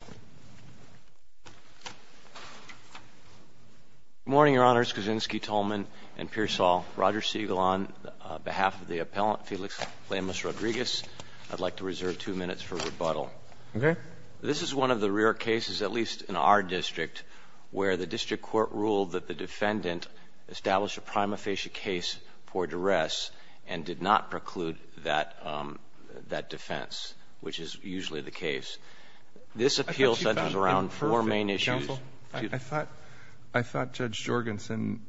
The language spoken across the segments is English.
Good morning, your honors. Kuczynski, Tolman, and Pearsall. Roger Siegel on behalf of the appellant Felix Lemus-Rodriguez. I'd like to reserve two minutes for rebuttal. Okay. This is one of the rare cases, at least in our district, where the district court ruled that the defendant established a prima facie case for duress and did not preclude that defense, which is usually the case. This appeal centers around four main issues. Counsel, I thought Judge Jorgensen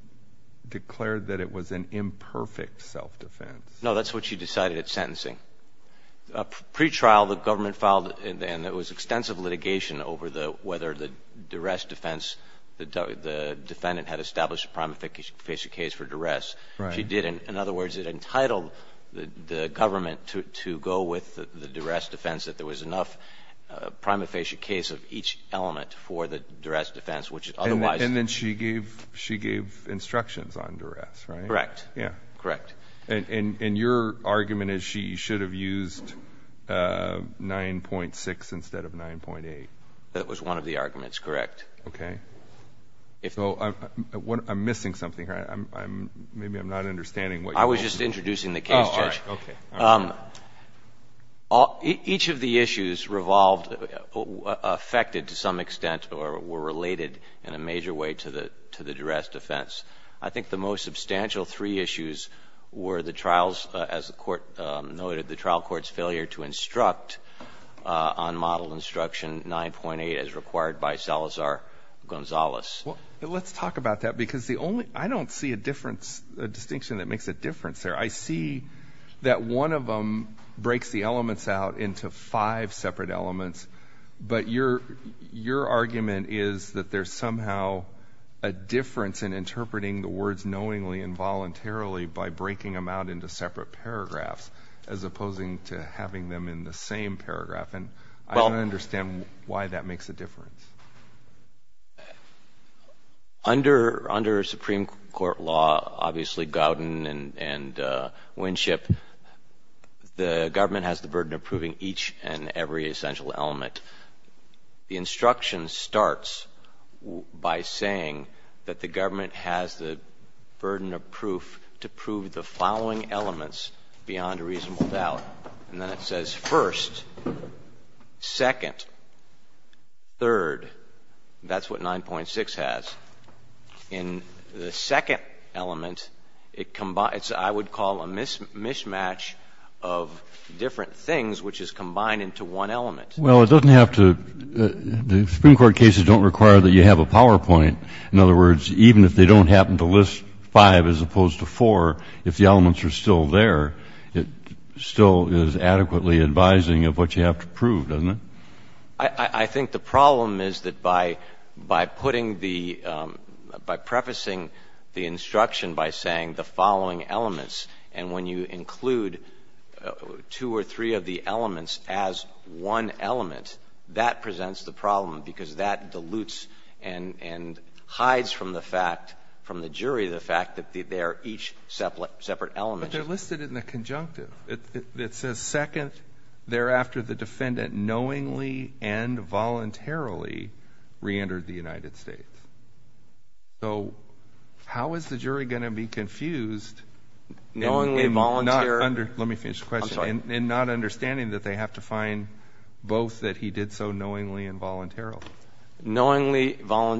declared that it was an imperfect self-defense. No, that's what she decided at sentencing. Pre-trial, the government filed, and it was extensive litigation over whether the duress defense, the defendant had established a prima facie case for duress. She didn't. In other words, it entitled the government to go with the duress defense, that there was enough prima facie case of each element for the duress defense, which otherwise And then she gave instructions on duress, right? Correct. Correct. And your argument is she should have used 9.6 instead of 9.8? That was one of the arguments, correct. Okay. So I'm missing something here. Maybe I'm not understanding what you're saying. I was just introducing the case, Judge. Okay. All right. Each of the issues revolved, affected to some extent or were related in a major way to the duress defense. I think the most substantial three issues were the trials, as the Court noted, the trial court's failure to instruct on model instruction 9.8 as required by Salazar-Gonzalez. Let's talk about that, because the only — I don't see a difference — a distinction that makes a difference there. I see that one of them breaks the elements out into five separate elements, but your argument is that there's somehow a difference in interpreting the words knowingly and voluntarily by breaking them out into separate paragraphs, as opposing to having them in the same paragraph. And I don't understand why that makes a difference. Under — under Supreme Court law, obviously, Gowden and Winship, the government has the burden of proving each and every essential element. The instruction starts by saying that the government has the burden of proof to prove the following elements beyond a reasonable doubt. And then it says first, second, third. That's what 9.6 has. In the second element, it combines — I would call a mismatch of different things, which is combined into one element. Well, it doesn't have to — the Supreme Court cases don't require that you have a PowerPoint. In other words, even if they don't happen to list five as opposed to four, if the elements are still there, it still is adequately advising of what you have to prove, doesn't it? I think the problem is that by putting the — by prefacing the instruction by saying the following elements, and when you include two or three of the elements as one element, that presents the problem, because that dilutes and hides from the fact — from the jury the fact that they are each separate element. But they're listed in the conjunctive. It says second, thereafter the defendant knowingly and voluntarily reentered the United States. So how is the jury going to be confused — Knowingly, voluntarily — Let me finish the question. I'm sorry. In not understanding that they have to find both that he did so knowingly and voluntarily. Knowingly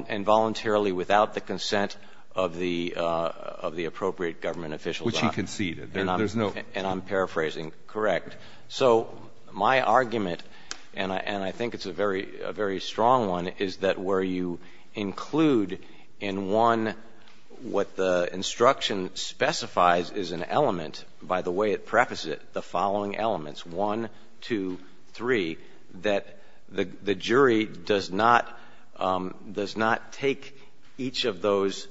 and voluntarily without the consent of the appropriate government officials. Which he conceded. There's no — And I'm paraphrasing. Correct. So my argument, and I think it's a very strong one, is that where you include in one what the instruction specifies is an element by the way it prefaces it, the following elements, one, two, three, that the jury does not — does not take each of those,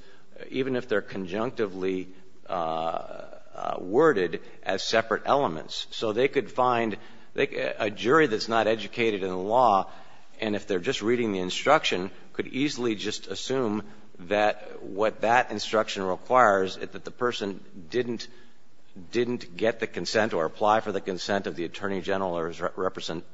even if they're conjunctively worded, as separate elements. So they could find — a jury that's not educated in law, and if they're just reading the instruction, could easily just assume that what that instruction requires, that the person didn't get the consent or apply for the consent of the attorney general or his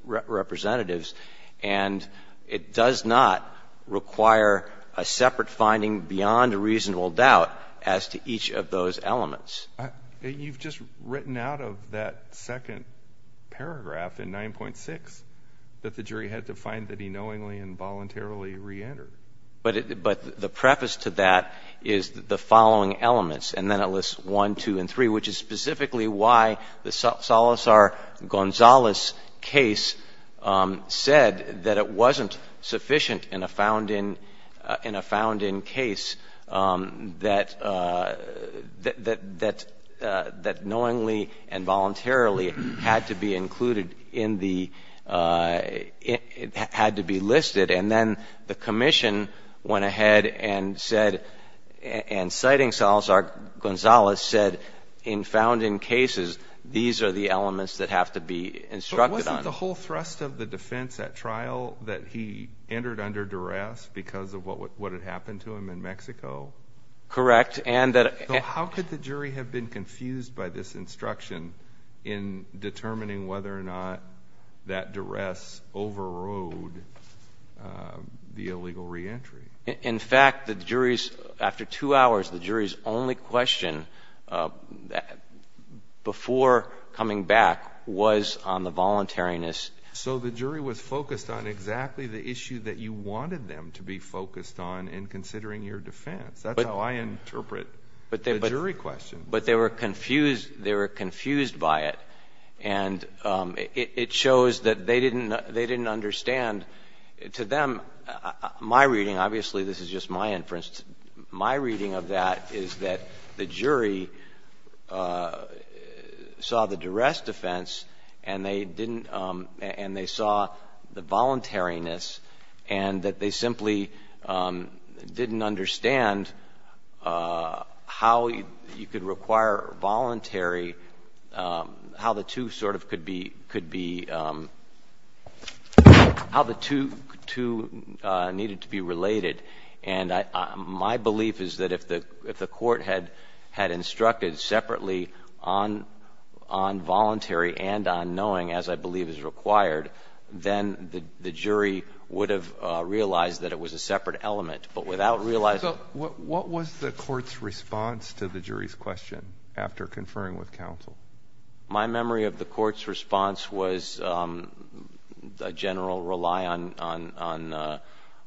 representatives, and it does not require a separate finding beyond a reasonable doubt as to each of those elements. You've just written out of that second paragraph in 9.6 that the jury had to find that he knowingly and voluntarily reentered. But the preface to that is the following elements, and then it lists one, two, and three, which is specifically why the Salazar-Gonzalez case said that it wasn't sufficient in a found-in case that knowingly and voluntarily had to be included in the — had to be listed. And then the commission went ahead and said — and citing Salazar-Gonzalez said, in fact, in found-in cases, these are the elements that have to be instructed on. But wasn't the whole thrust of the defense, that trial, that he entered under duress because of what had happened to him in Mexico? Correct, and that — So how could the jury have been confused by this instruction in determining whether or not that duress overrode the illegal reentry? In fact, the jury's — after two hours, the jury's only question before coming back was on the voluntariness. So the jury was focused on exactly the issue that you wanted them to be focused on in considering your defense. That's how I interpret the jury question. But they were confused. They were confused by it. And it shows that they didn't understand. To them, my reading — obviously, this is just my inference. My reading of that is that the jury saw the duress defense and they didn't — and they saw the voluntariness and that they simply didn't understand how you could require voluntary, how the two sort of could be — how the two needed to be related. And my belief is that if the court had instructed separately on voluntary and on knowing, as I believe is required, then the jury would have realized that it was a separate element. But without realizing — So what was the court's response to the jury's question after conferring with counsel? My memory of the court's response was a general rely on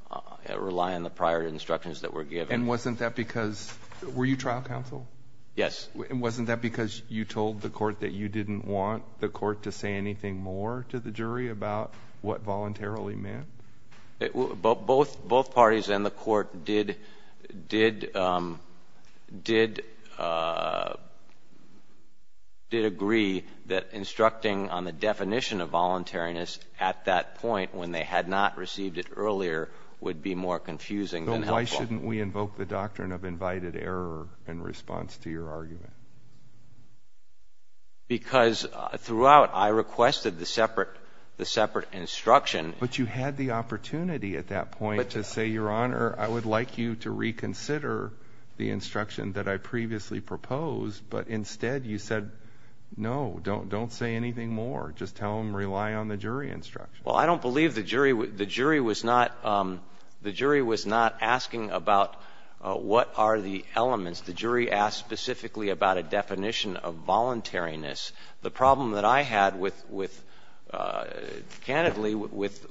the prior instructions that were given. And wasn't that because — were you trial counsel? Yes. And wasn't that because you told the court that you didn't want the court to say anything more to the jury about what voluntarily meant? Both parties and the court did — both parties and the court did — both parties and the court did agree that instructing on the definition of voluntariness at that point when they had not received it earlier would be more confusing than helpful. But why shouldn't we invoke the doctrine of invited error in response to your argument? Because throughout, I requested the separate — the separate instruction — But you had the opportunity at that point to say, Your Honor, I would like you to reconsider the instruction that I previously proposed. But instead, you said, No, don't say anything more. Just tell them, rely on the jury instruction. Well, I don't believe the jury — the jury was not — the jury was not asking about what are the elements. The jury asked specifically about a definition of voluntariness. The problem that I had with — candidly, with —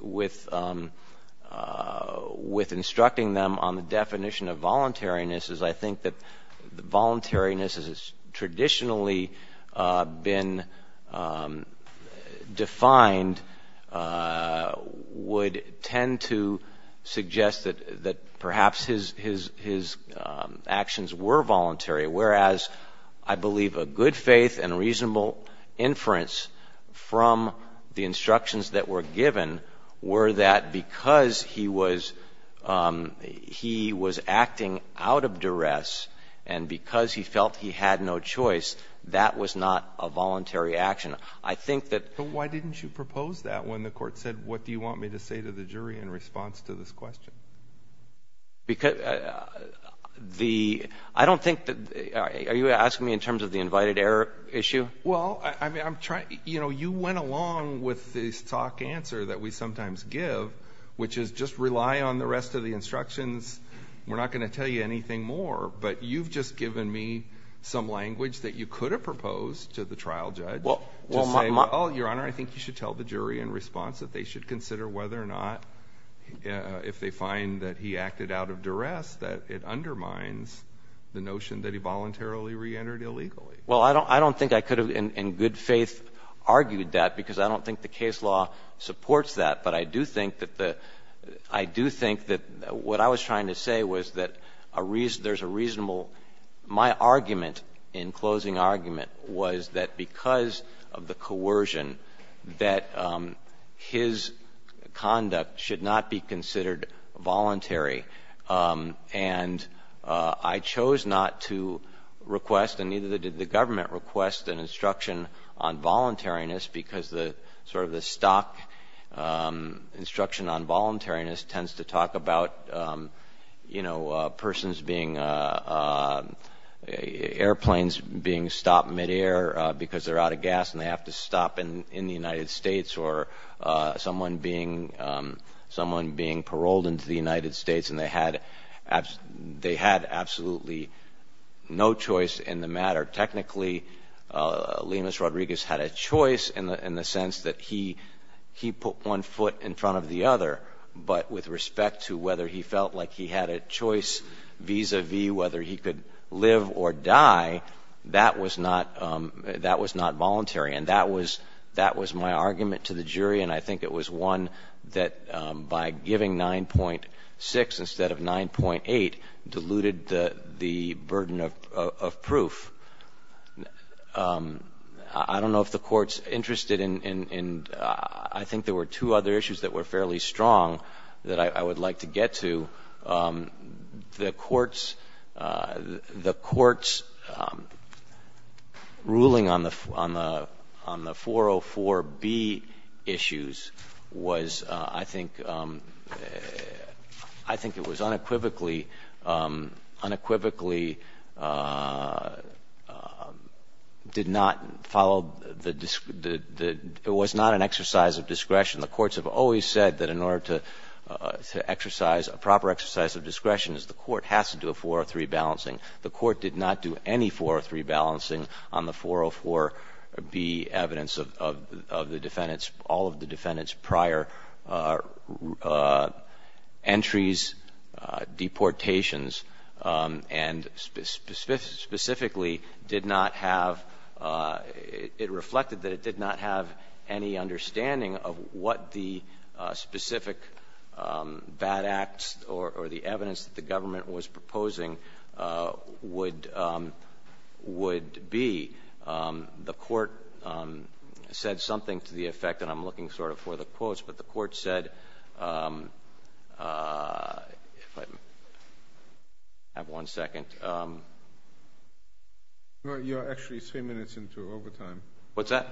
with instructing them on the definition of voluntariness is I think that the voluntariness as it's traditionally been defined would tend to suggest that — that perhaps his — his — his actions were voluntary, whereas I believe a good faith and reasonable inference from the instructions that were given were that because he was — he was acting out of duress and because he felt he had no choice, that was not a voluntary action. I think that — But why didn't you propose that when the Court said, What do you want me to say to the jury in response to this question? Because the — I don't think that — are you asking me in terms of the invited error issue? Well, I mean, I'm trying — you know, you went along with the stock answer that we sometimes give, which is just rely on the rest of the instructions. We're not going to tell you anything more, but you've just given me some language that you could have proposed to the trial judge to say, Oh, Your Honor, I think you should tell the jury in response that they should consider whether or not, if they find that he acted out of duress, that it undermines the notion that he voluntarily reentered illegally. Well, I don't think I could have in good faith argued that because I don't think the case law supports that. But I do think that the — I do think that what I was trying to say was that there's a reasonable — my argument in closing argument was that because of the coercion, that his conduct should not be considered voluntary. And I chose not to request, and neither did the government request, an instruction on voluntariness because the — sort of the stock instruction on voluntariness tends to talk about, you know, persons being — airplanes being stopped midair because they're out of gas and they have to stop in the United States, or someone being paroled into the United States, and they had absolutely no choice in the matter. Technically, Lemus Rodriguez had a choice in the sense that he put one foot in front of the other, but with respect to whether he felt like he had a choice vis-a-vis whether he could live or die, that was not voluntary. And that was my argument to the jury, and I think it was one that, by giving nine-point six instead of nine-point eight, diluted the burden of proof. I don't know if the Court's interested in — I think there were two other issues that were fairly strong that I would like to get to. The Court's — the Court's ruling on the — on the 404B issues was, I think, a very strong argument that I think it was unequivocally — unequivocally did not follow the — it was not an exercise of discretion. The courts have always said that in order to exercise a proper exercise of discretion is the court has to do a 403 balancing. The court did not do any 403 balancing on the 404B evidence of the defendants, all of the defendants' prior entries, deportations, and specifically did not have — it reflected that it did not have any understanding of what the specific bad acts or the evidence that the government was proposing would — would be. The Court said something to the effect — and I'm looking sort of for the quotes — but the Court said — if I have one second. No, you're actually three minutes into overtime. What's that?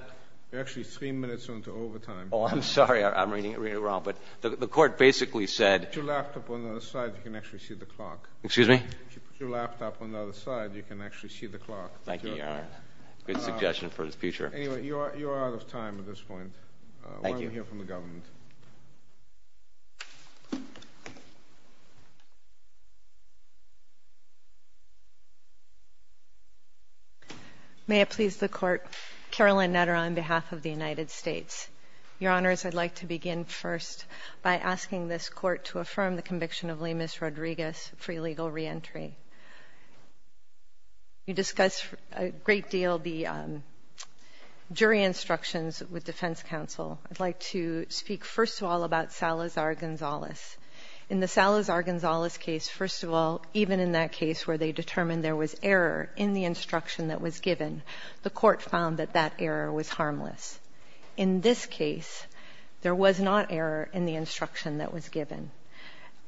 You're actually three minutes into overtime. Oh, I'm sorry. I'm reading it wrong. But the Court basically said — If you put your laptop on the other side, you can actually see the clock. Excuse me? If you put your laptop on the other side, you can actually see the clock. Thank you, Your Honor. Good suggestion for the future. Anyway, you are out of time at this point. Thank you. Why don't we hear from the government? May it please the Court, Caroline Nutter on behalf of the United States. Your Honors, I'd like to begin first by asking this Court to affirm the conviction of Lemus Rodriguez for illegal reentry. You discussed a great deal the jury instructions with Defense Counsel. I'd like to speak first of all about Salazar-Gonzalez. In the Salazar-Gonzalez case, first of all, even in that case where they determined there was error in the instruction that was given, the Court found that that error was harmless. In this case, there was not error in the instruction that was given.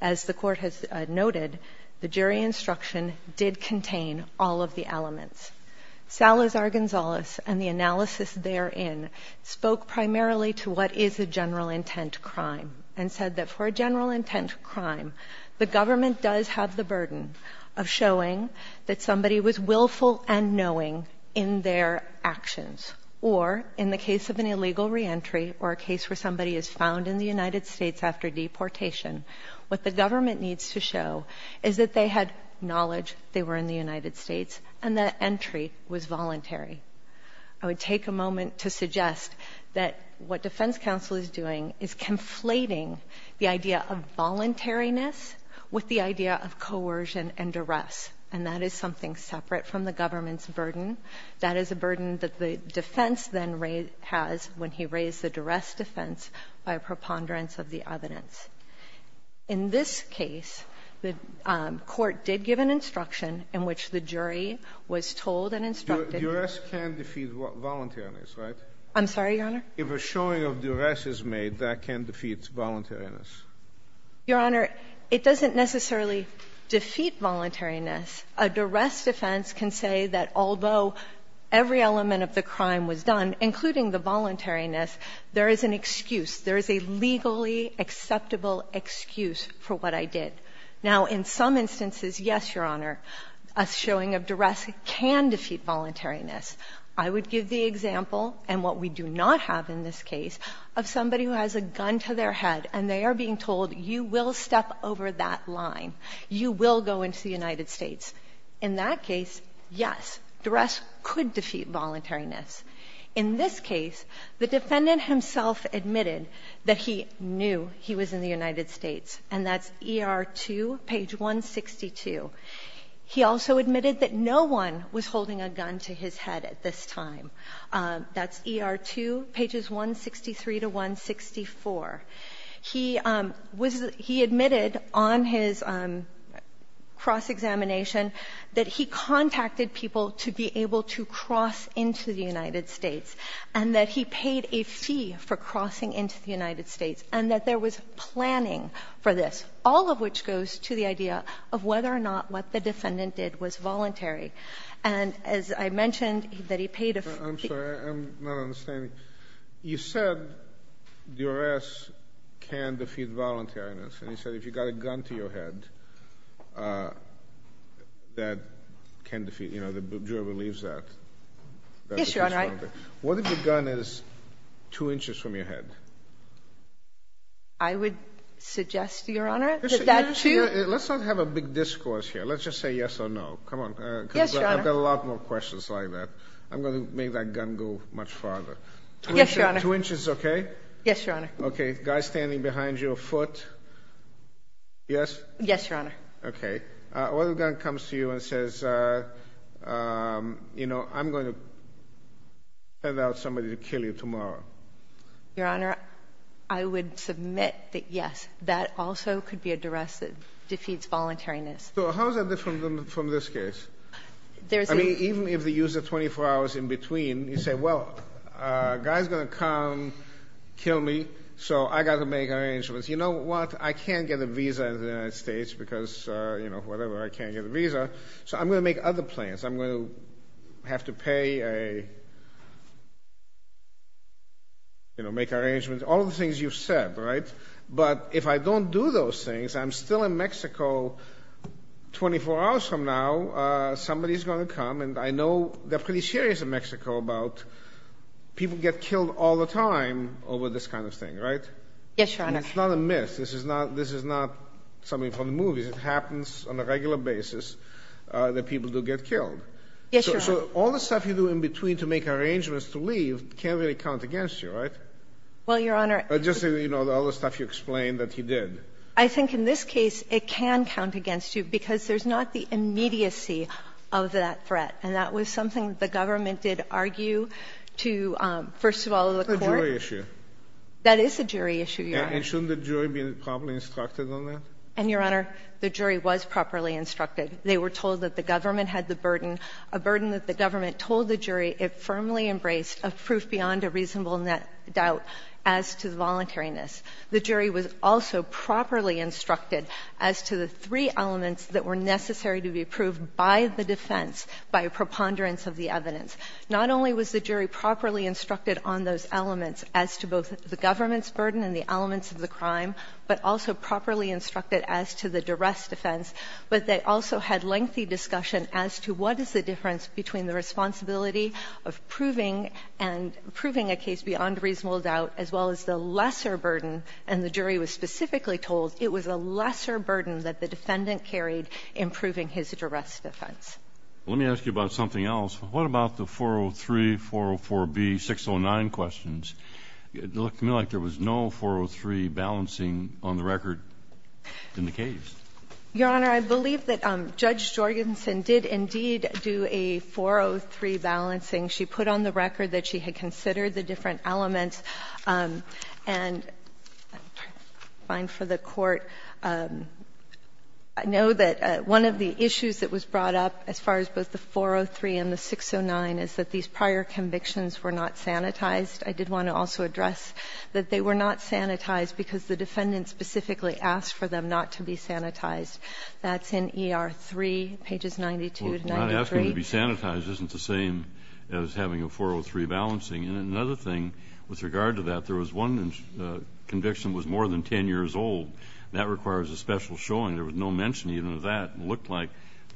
As the Court has noted, the jury instruction did contain all of the elements. Salazar-Gonzalez and the analysis therein spoke primarily to what is a general intent crime and said that for a general intent crime, the government does have the burden of showing that somebody was willful and knowing in their actions. Or in the case of an illegal reentry or a case where somebody is found in the United States after deportation, what the government needs to show is that they had knowledge they were in the United States and that entry was voluntary. I would take a moment to suggest that what Defense Counsel is doing is conflating the idea of voluntariness with the idea of coercion and duress. And that is something separate from the government's burden. That is a burden that the defense then has when he raised the duress defense by preponderance of the evidence. In this case, the Court did give an instruction in which the jury was told and instructed that the duress can defeat voluntariness, right? I'm sorry, Your Honor? If a showing of duress is made, that can defeat voluntariness. Your Honor, it doesn't necessarily defeat voluntariness. A duress defense can say that although every element of the crime was done, including the voluntariness, there is an excuse, there is a legally acceptable excuse for what I did. Now, in some instances, yes, Your Honor, a showing of duress can defeat voluntariness. I would give the example, and what we do not have in this case, of somebody who has a gun to their head and they are being told, you will step over that line, you will go into the United States. In that case, yes, duress could defeat voluntariness. In this case, the defendant himself admitted that he knew he was in the United States, and that's ER 2, page 162. He also admitted that no one was holding a gun to his head at this time. That's ER 2, pages 163 to 164. He admitted on his cross-examination that he contacted people to be able to cross into the United States, and that he paid a fee for crossing into the United States, and that there was planning for this. All of which goes to the idea of whether or not what the defendant did was voluntary. And as I mentioned, that he paid a fee. I'm sorry, I'm not understanding. You said duress can defeat voluntariness, and you said if you got a gun to your head, that can defeat, you know, the juror believes that. Yes, Your Honor. What if the gun is two inches from your head? I would suggest, Your Honor, that that too— Let's not have a big discourse here. Let's just say yes or no. Come on. Yes, Your Honor. I've got a lot more questions like that. I'm going to make that gun go much farther. Yes, Your Honor. Two inches is okay? Yes, Your Honor. Okay. Guy standing behind you, a foot. Yes? Yes, Your Honor. Okay. What if the gun comes to you and says, you know, I'm going to send out somebody to kill you tomorrow? Your Honor, I would submit that yes, that also could be a duress that defeats voluntariness. So how is that different from this case? I mean, even if they use the 24 hours in between, you say, well, a guy's going to come kill me, so I've got to make arrangements. You know what? I can't get a visa in the United States because, you know, whatever, I can't get a visa, so I'm going to make other plans. I'm going to have to pay a—you know, make arrangements. All the things you've said, right? But if I don't do those things, I'm still in Mexico 24 hours from now. Somebody's going to come, and I know they're pretty serious in Mexico about people get killed all the time over this kind of thing, right? Yes, Your Honor. And it's not a myth. This is not something from the movies. It happens on a regular basis that people do get killed. Yes, Your Honor. So all the stuff you do in between to make arrangements to leave can't really count against you, right? Well, Your Honor— Just, you know, all the stuff you explained that he did. I think in this case it can count against you because there's not the immediacy of that threat, and that was something the government did argue to, first of all, the court. That's a jury issue. That is a jury issue, Your Honor. And shouldn't the jury be properly instructed on that? And, Your Honor, the jury was properly instructed. They were told that the government had the burden, a burden that the government told the jury it firmly embraced a proof beyond a reasonable doubt as to the voluntariness. The jury was also properly instructed as to the three elements that were necessary to be approved by the defense by a preponderance of the evidence. Not only was the jury properly instructed on those elements as to both the government's preponderance of the crime, but also properly instructed as to the duress defense. But they also had lengthy discussion as to what is the difference between the responsibility of proving a case beyond reasonable doubt as well as the lesser burden, and the jury was specifically told it was a lesser burden that the defendant carried in proving his duress defense. Let me ask you about something else. What about the 403, 404B, 609 questions? It looked to me like there was no 403 balancing on the record in the case. Your Honor, I believe that Judge Jorgensen did indeed do a 403 balancing. She put on the record that she had considered the different elements. And I'm fine for the Court. I know that one of the issues that was brought up as far as both the 403 and the 609 is that these prior convictions were not sanitized. I did want to also address that they were not sanitized because the defendant specifically asked for them not to be sanitized. That's in ER 3, pages 92 to 93. Well, not asking to be sanitized isn't the same as having a 403 balancing. And another thing with regard to that, there was one conviction was more than 10 years old. That requires a special showing. There was no mention even of that. It looked like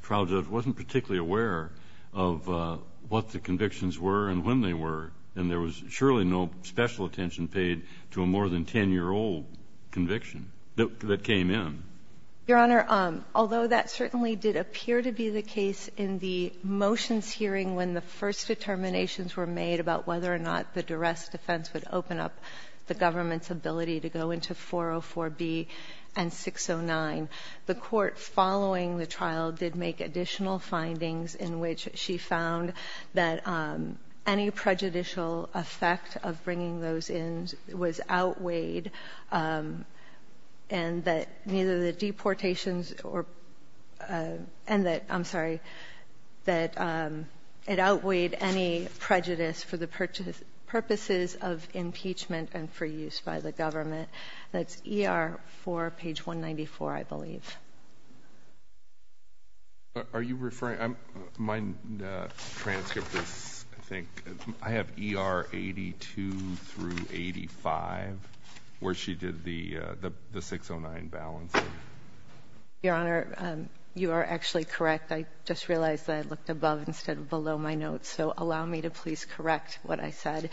trial judge wasn't particularly aware of what the convictions were and when they were. And there was surely no special attention paid to a more than 10-year-old conviction that came in. Your Honor, although that certainly did appear to be the case in the motions hearing when the first determinations were made about whether or not the duress defense would open up the government's ability to go into 404B and 609, the Court following the trial did make additional findings in which she found that any prejudicial effect of bringing those in was outweighed and that it outweighed any prejudice for the purposes of impeachment and for use by the government. That's ER 4, page 194, I believe. Are you referring? My transcript is, I think, I have ER 82 through 85, where she did the 609 balancing. Your Honor, you are actually correct. I just realized that I looked above instead of below my notes, so allow me to please correct what I said.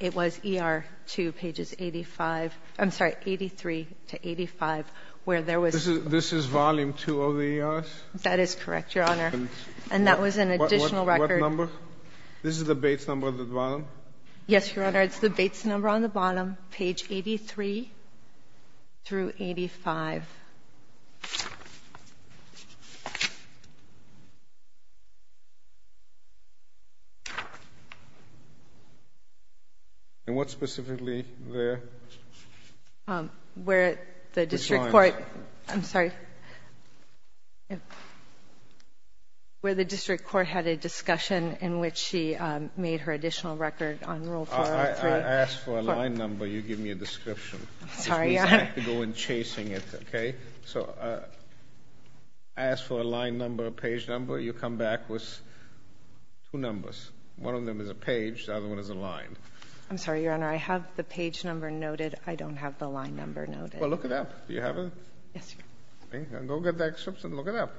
It was ER 2, pages 85, I'm sorry, 83 to 85, where there was This is volume 2 of the ERs? That is correct, Your Honor, and that was an additional record. What number? This is the Bates number on the bottom? Yes, Your Honor, it's the Bates number on the bottom, page 83 through 85. And what specifically there? Where the district court Which lines? I'm sorry, where the district court had a discussion in which she made her additional record on Rule 403. I asked for a line number, you give me a description. Sorry, Your Honor. Which means I have to go in chasing it, okay? So I asked for a line number, a page number, you come back with two numbers. One of them is a page, the other one is a line. I'm sorry, Your Honor, I have the page number noted. I don't have the line number noted. Well, look it up. Do you have it? Yes, Your Honor. Go get the excerpts and look it up.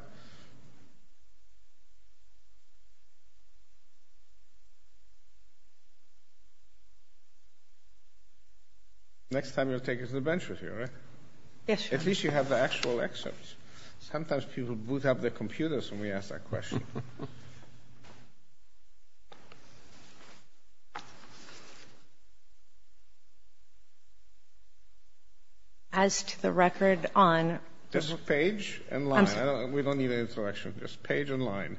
Next time you'll take it to the bench with you, right? Yes, Your Honor. At least you have the actual excerpts. Sometimes people boot up their computers when we ask that question. As to the record on... Just page and line. I'm sorry. We don't need an introduction. Just page and line.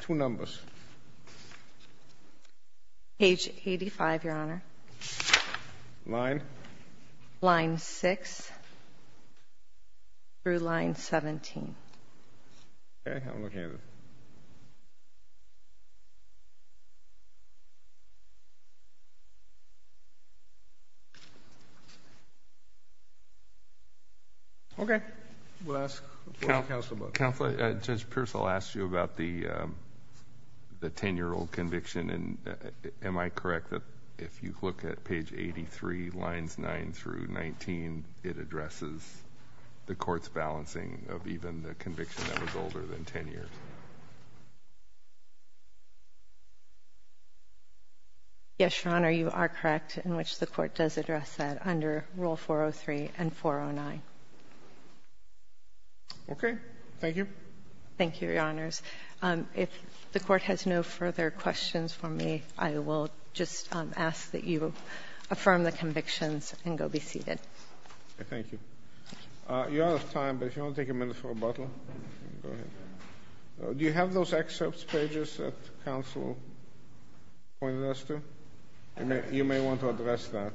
Two numbers. Page 85, Your Honor. Line? Line 6 through line 17. Okay, I'm looking at it. Okay. Okay. We'll ask the court counsel about it. Counsel, Judge Pierce, I'll ask you about the 10-year-old conviction. Am I correct that if you look at page 83, lines 9 through 19, it addresses the court's balancing of even the conviction that was older than 10 years? Yes, Your Honor. You are correct in which the court does address that under Rule 403 and 409. Okay. Thank you. Thank you, Your Honors. If the court has no further questions for me, I will just ask that you affirm the convictions and go be seated. Thank you. You're out of time, but if you want to take a minute for rebuttal, go ahead. Do you have those excerpts pages that counsel pointed us to? You may want to address that.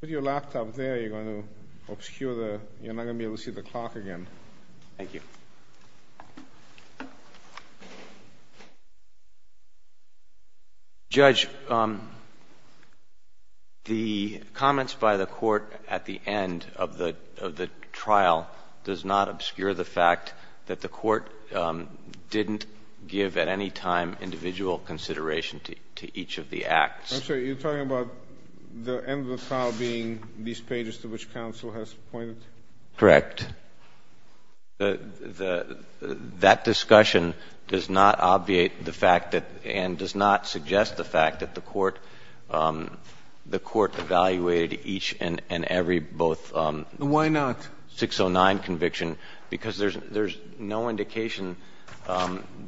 Put your laptop there. You're going to obscure the... You're not going to be able to see the clock again. Thank you. Judge, the comments by the court at the end of the trial does not obscure the fact that the court didn't give at any time individual consideration to each of the acts. I'm sorry. You're talking about the end of the trial being these pages to which counsel has pointed? Correct. That discussion does not obviate the fact that and does not suggest the fact that the court evaluated each and every both... Why not? 609 conviction, because there's no indication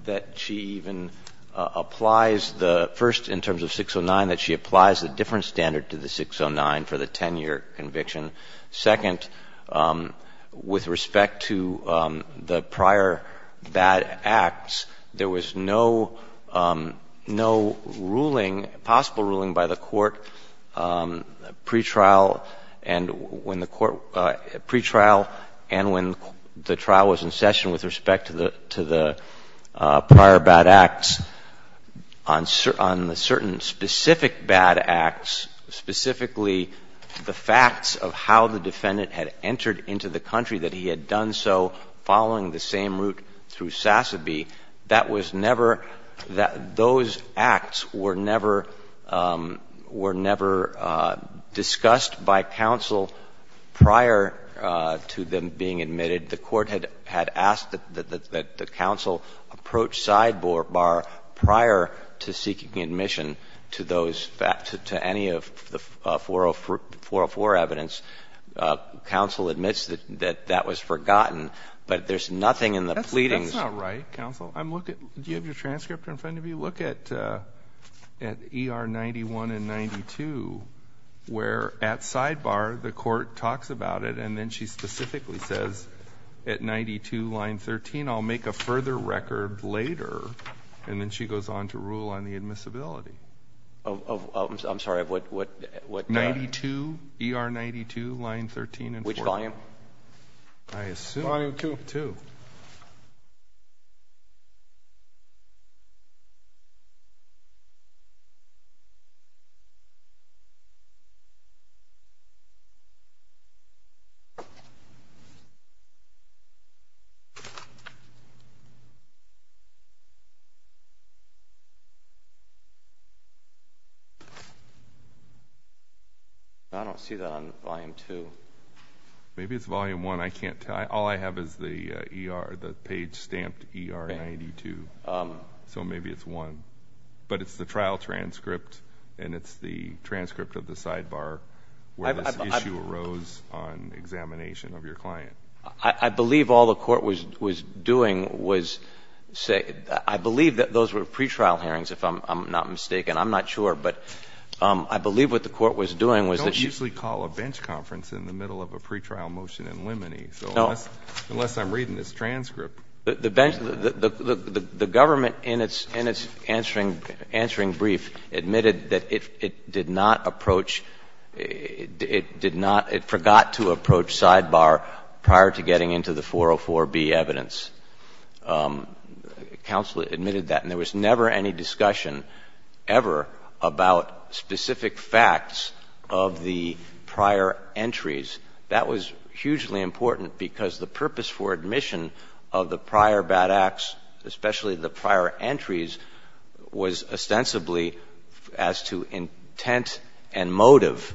that she even applies the first in terms of 609, that she applies a different standard to the 609 for the 10-year conviction. Second, with respect to the prior bad acts, there was no ruling, possible ruling by the court pretrial and when the trial was in session with respect to the prior bad acts on the certain specific bad acts, specifically the facts of how the defendant had entered into the country, that he had done so following the same route through Sassabee, that was never, those acts were never, were never discussed by counsel prior to them being admitted. The court had asked that the counsel approach sidebar prior to seeking admission to those, to any of the 404 evidence. Counsel admits that that was forgotten, but there's nothing in the pleadings. That's not right, counsel. Do you have your transcript in front of you? Look at ER 91 and 92 where at sidebar the court talks about it and then she specifically says at 92 line 13, I'll make a further record later, and then she goes on to rule on the admissibility. I'm sorry, of what? 92, ER 92, line 13. Which volume? I assume. Volume 2. 2. I don't see that on volume 2. Maybe it's volume 1. I can't tell. All I have is the ER, the page stamped ER 92. So maybe it's 1. But it's the trial transcript and it's the transcript of the sidebar where this issue arose on examination of your client. I believe all the court was doing was say, I believe that those were pretrial hearings if I'm not mistaken. I'm not sure. But I believe what the court was doing was that she. You don't usually call a bench conference in the middle of a pretrial motion in limine. No. Unless I'm reading this transcript. The government in its answering brief admitted that it did not approach, it did not, it forgot to approach sidebar prior to getting into the 404B evidence. Counsel admitted that. And there was never any discussion ever about specific facts of the prior entries. That was hugely important because the purpose for admission of the prior bad acts, especially the prior entries, was ostensibly as to intent and motive.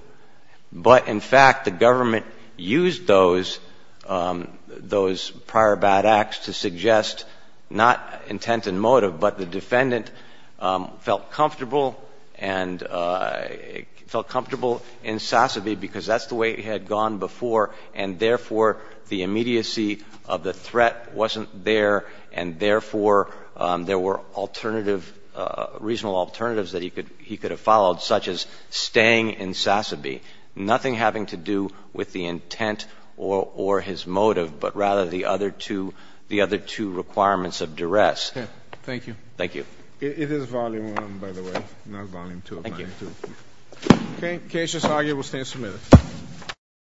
But, in fact, the government used those prior bad acts to suggest not intent and motive, but the defendant felt comfortable and felt comfortable in Sasseville because that's the way he had gone before. And, therefore, the immediacy of the threat wasn't there. And, therefore, there were alternative, reasonable alternatives that he could have followed, such as staying in Sasseville, nothing having to do with the intent or his motive, but rather the other two requirements of duress. Thank you. Thank you. It is volume one, by the way, not volume two. Thank you. Case is argued. We'll stand submitted.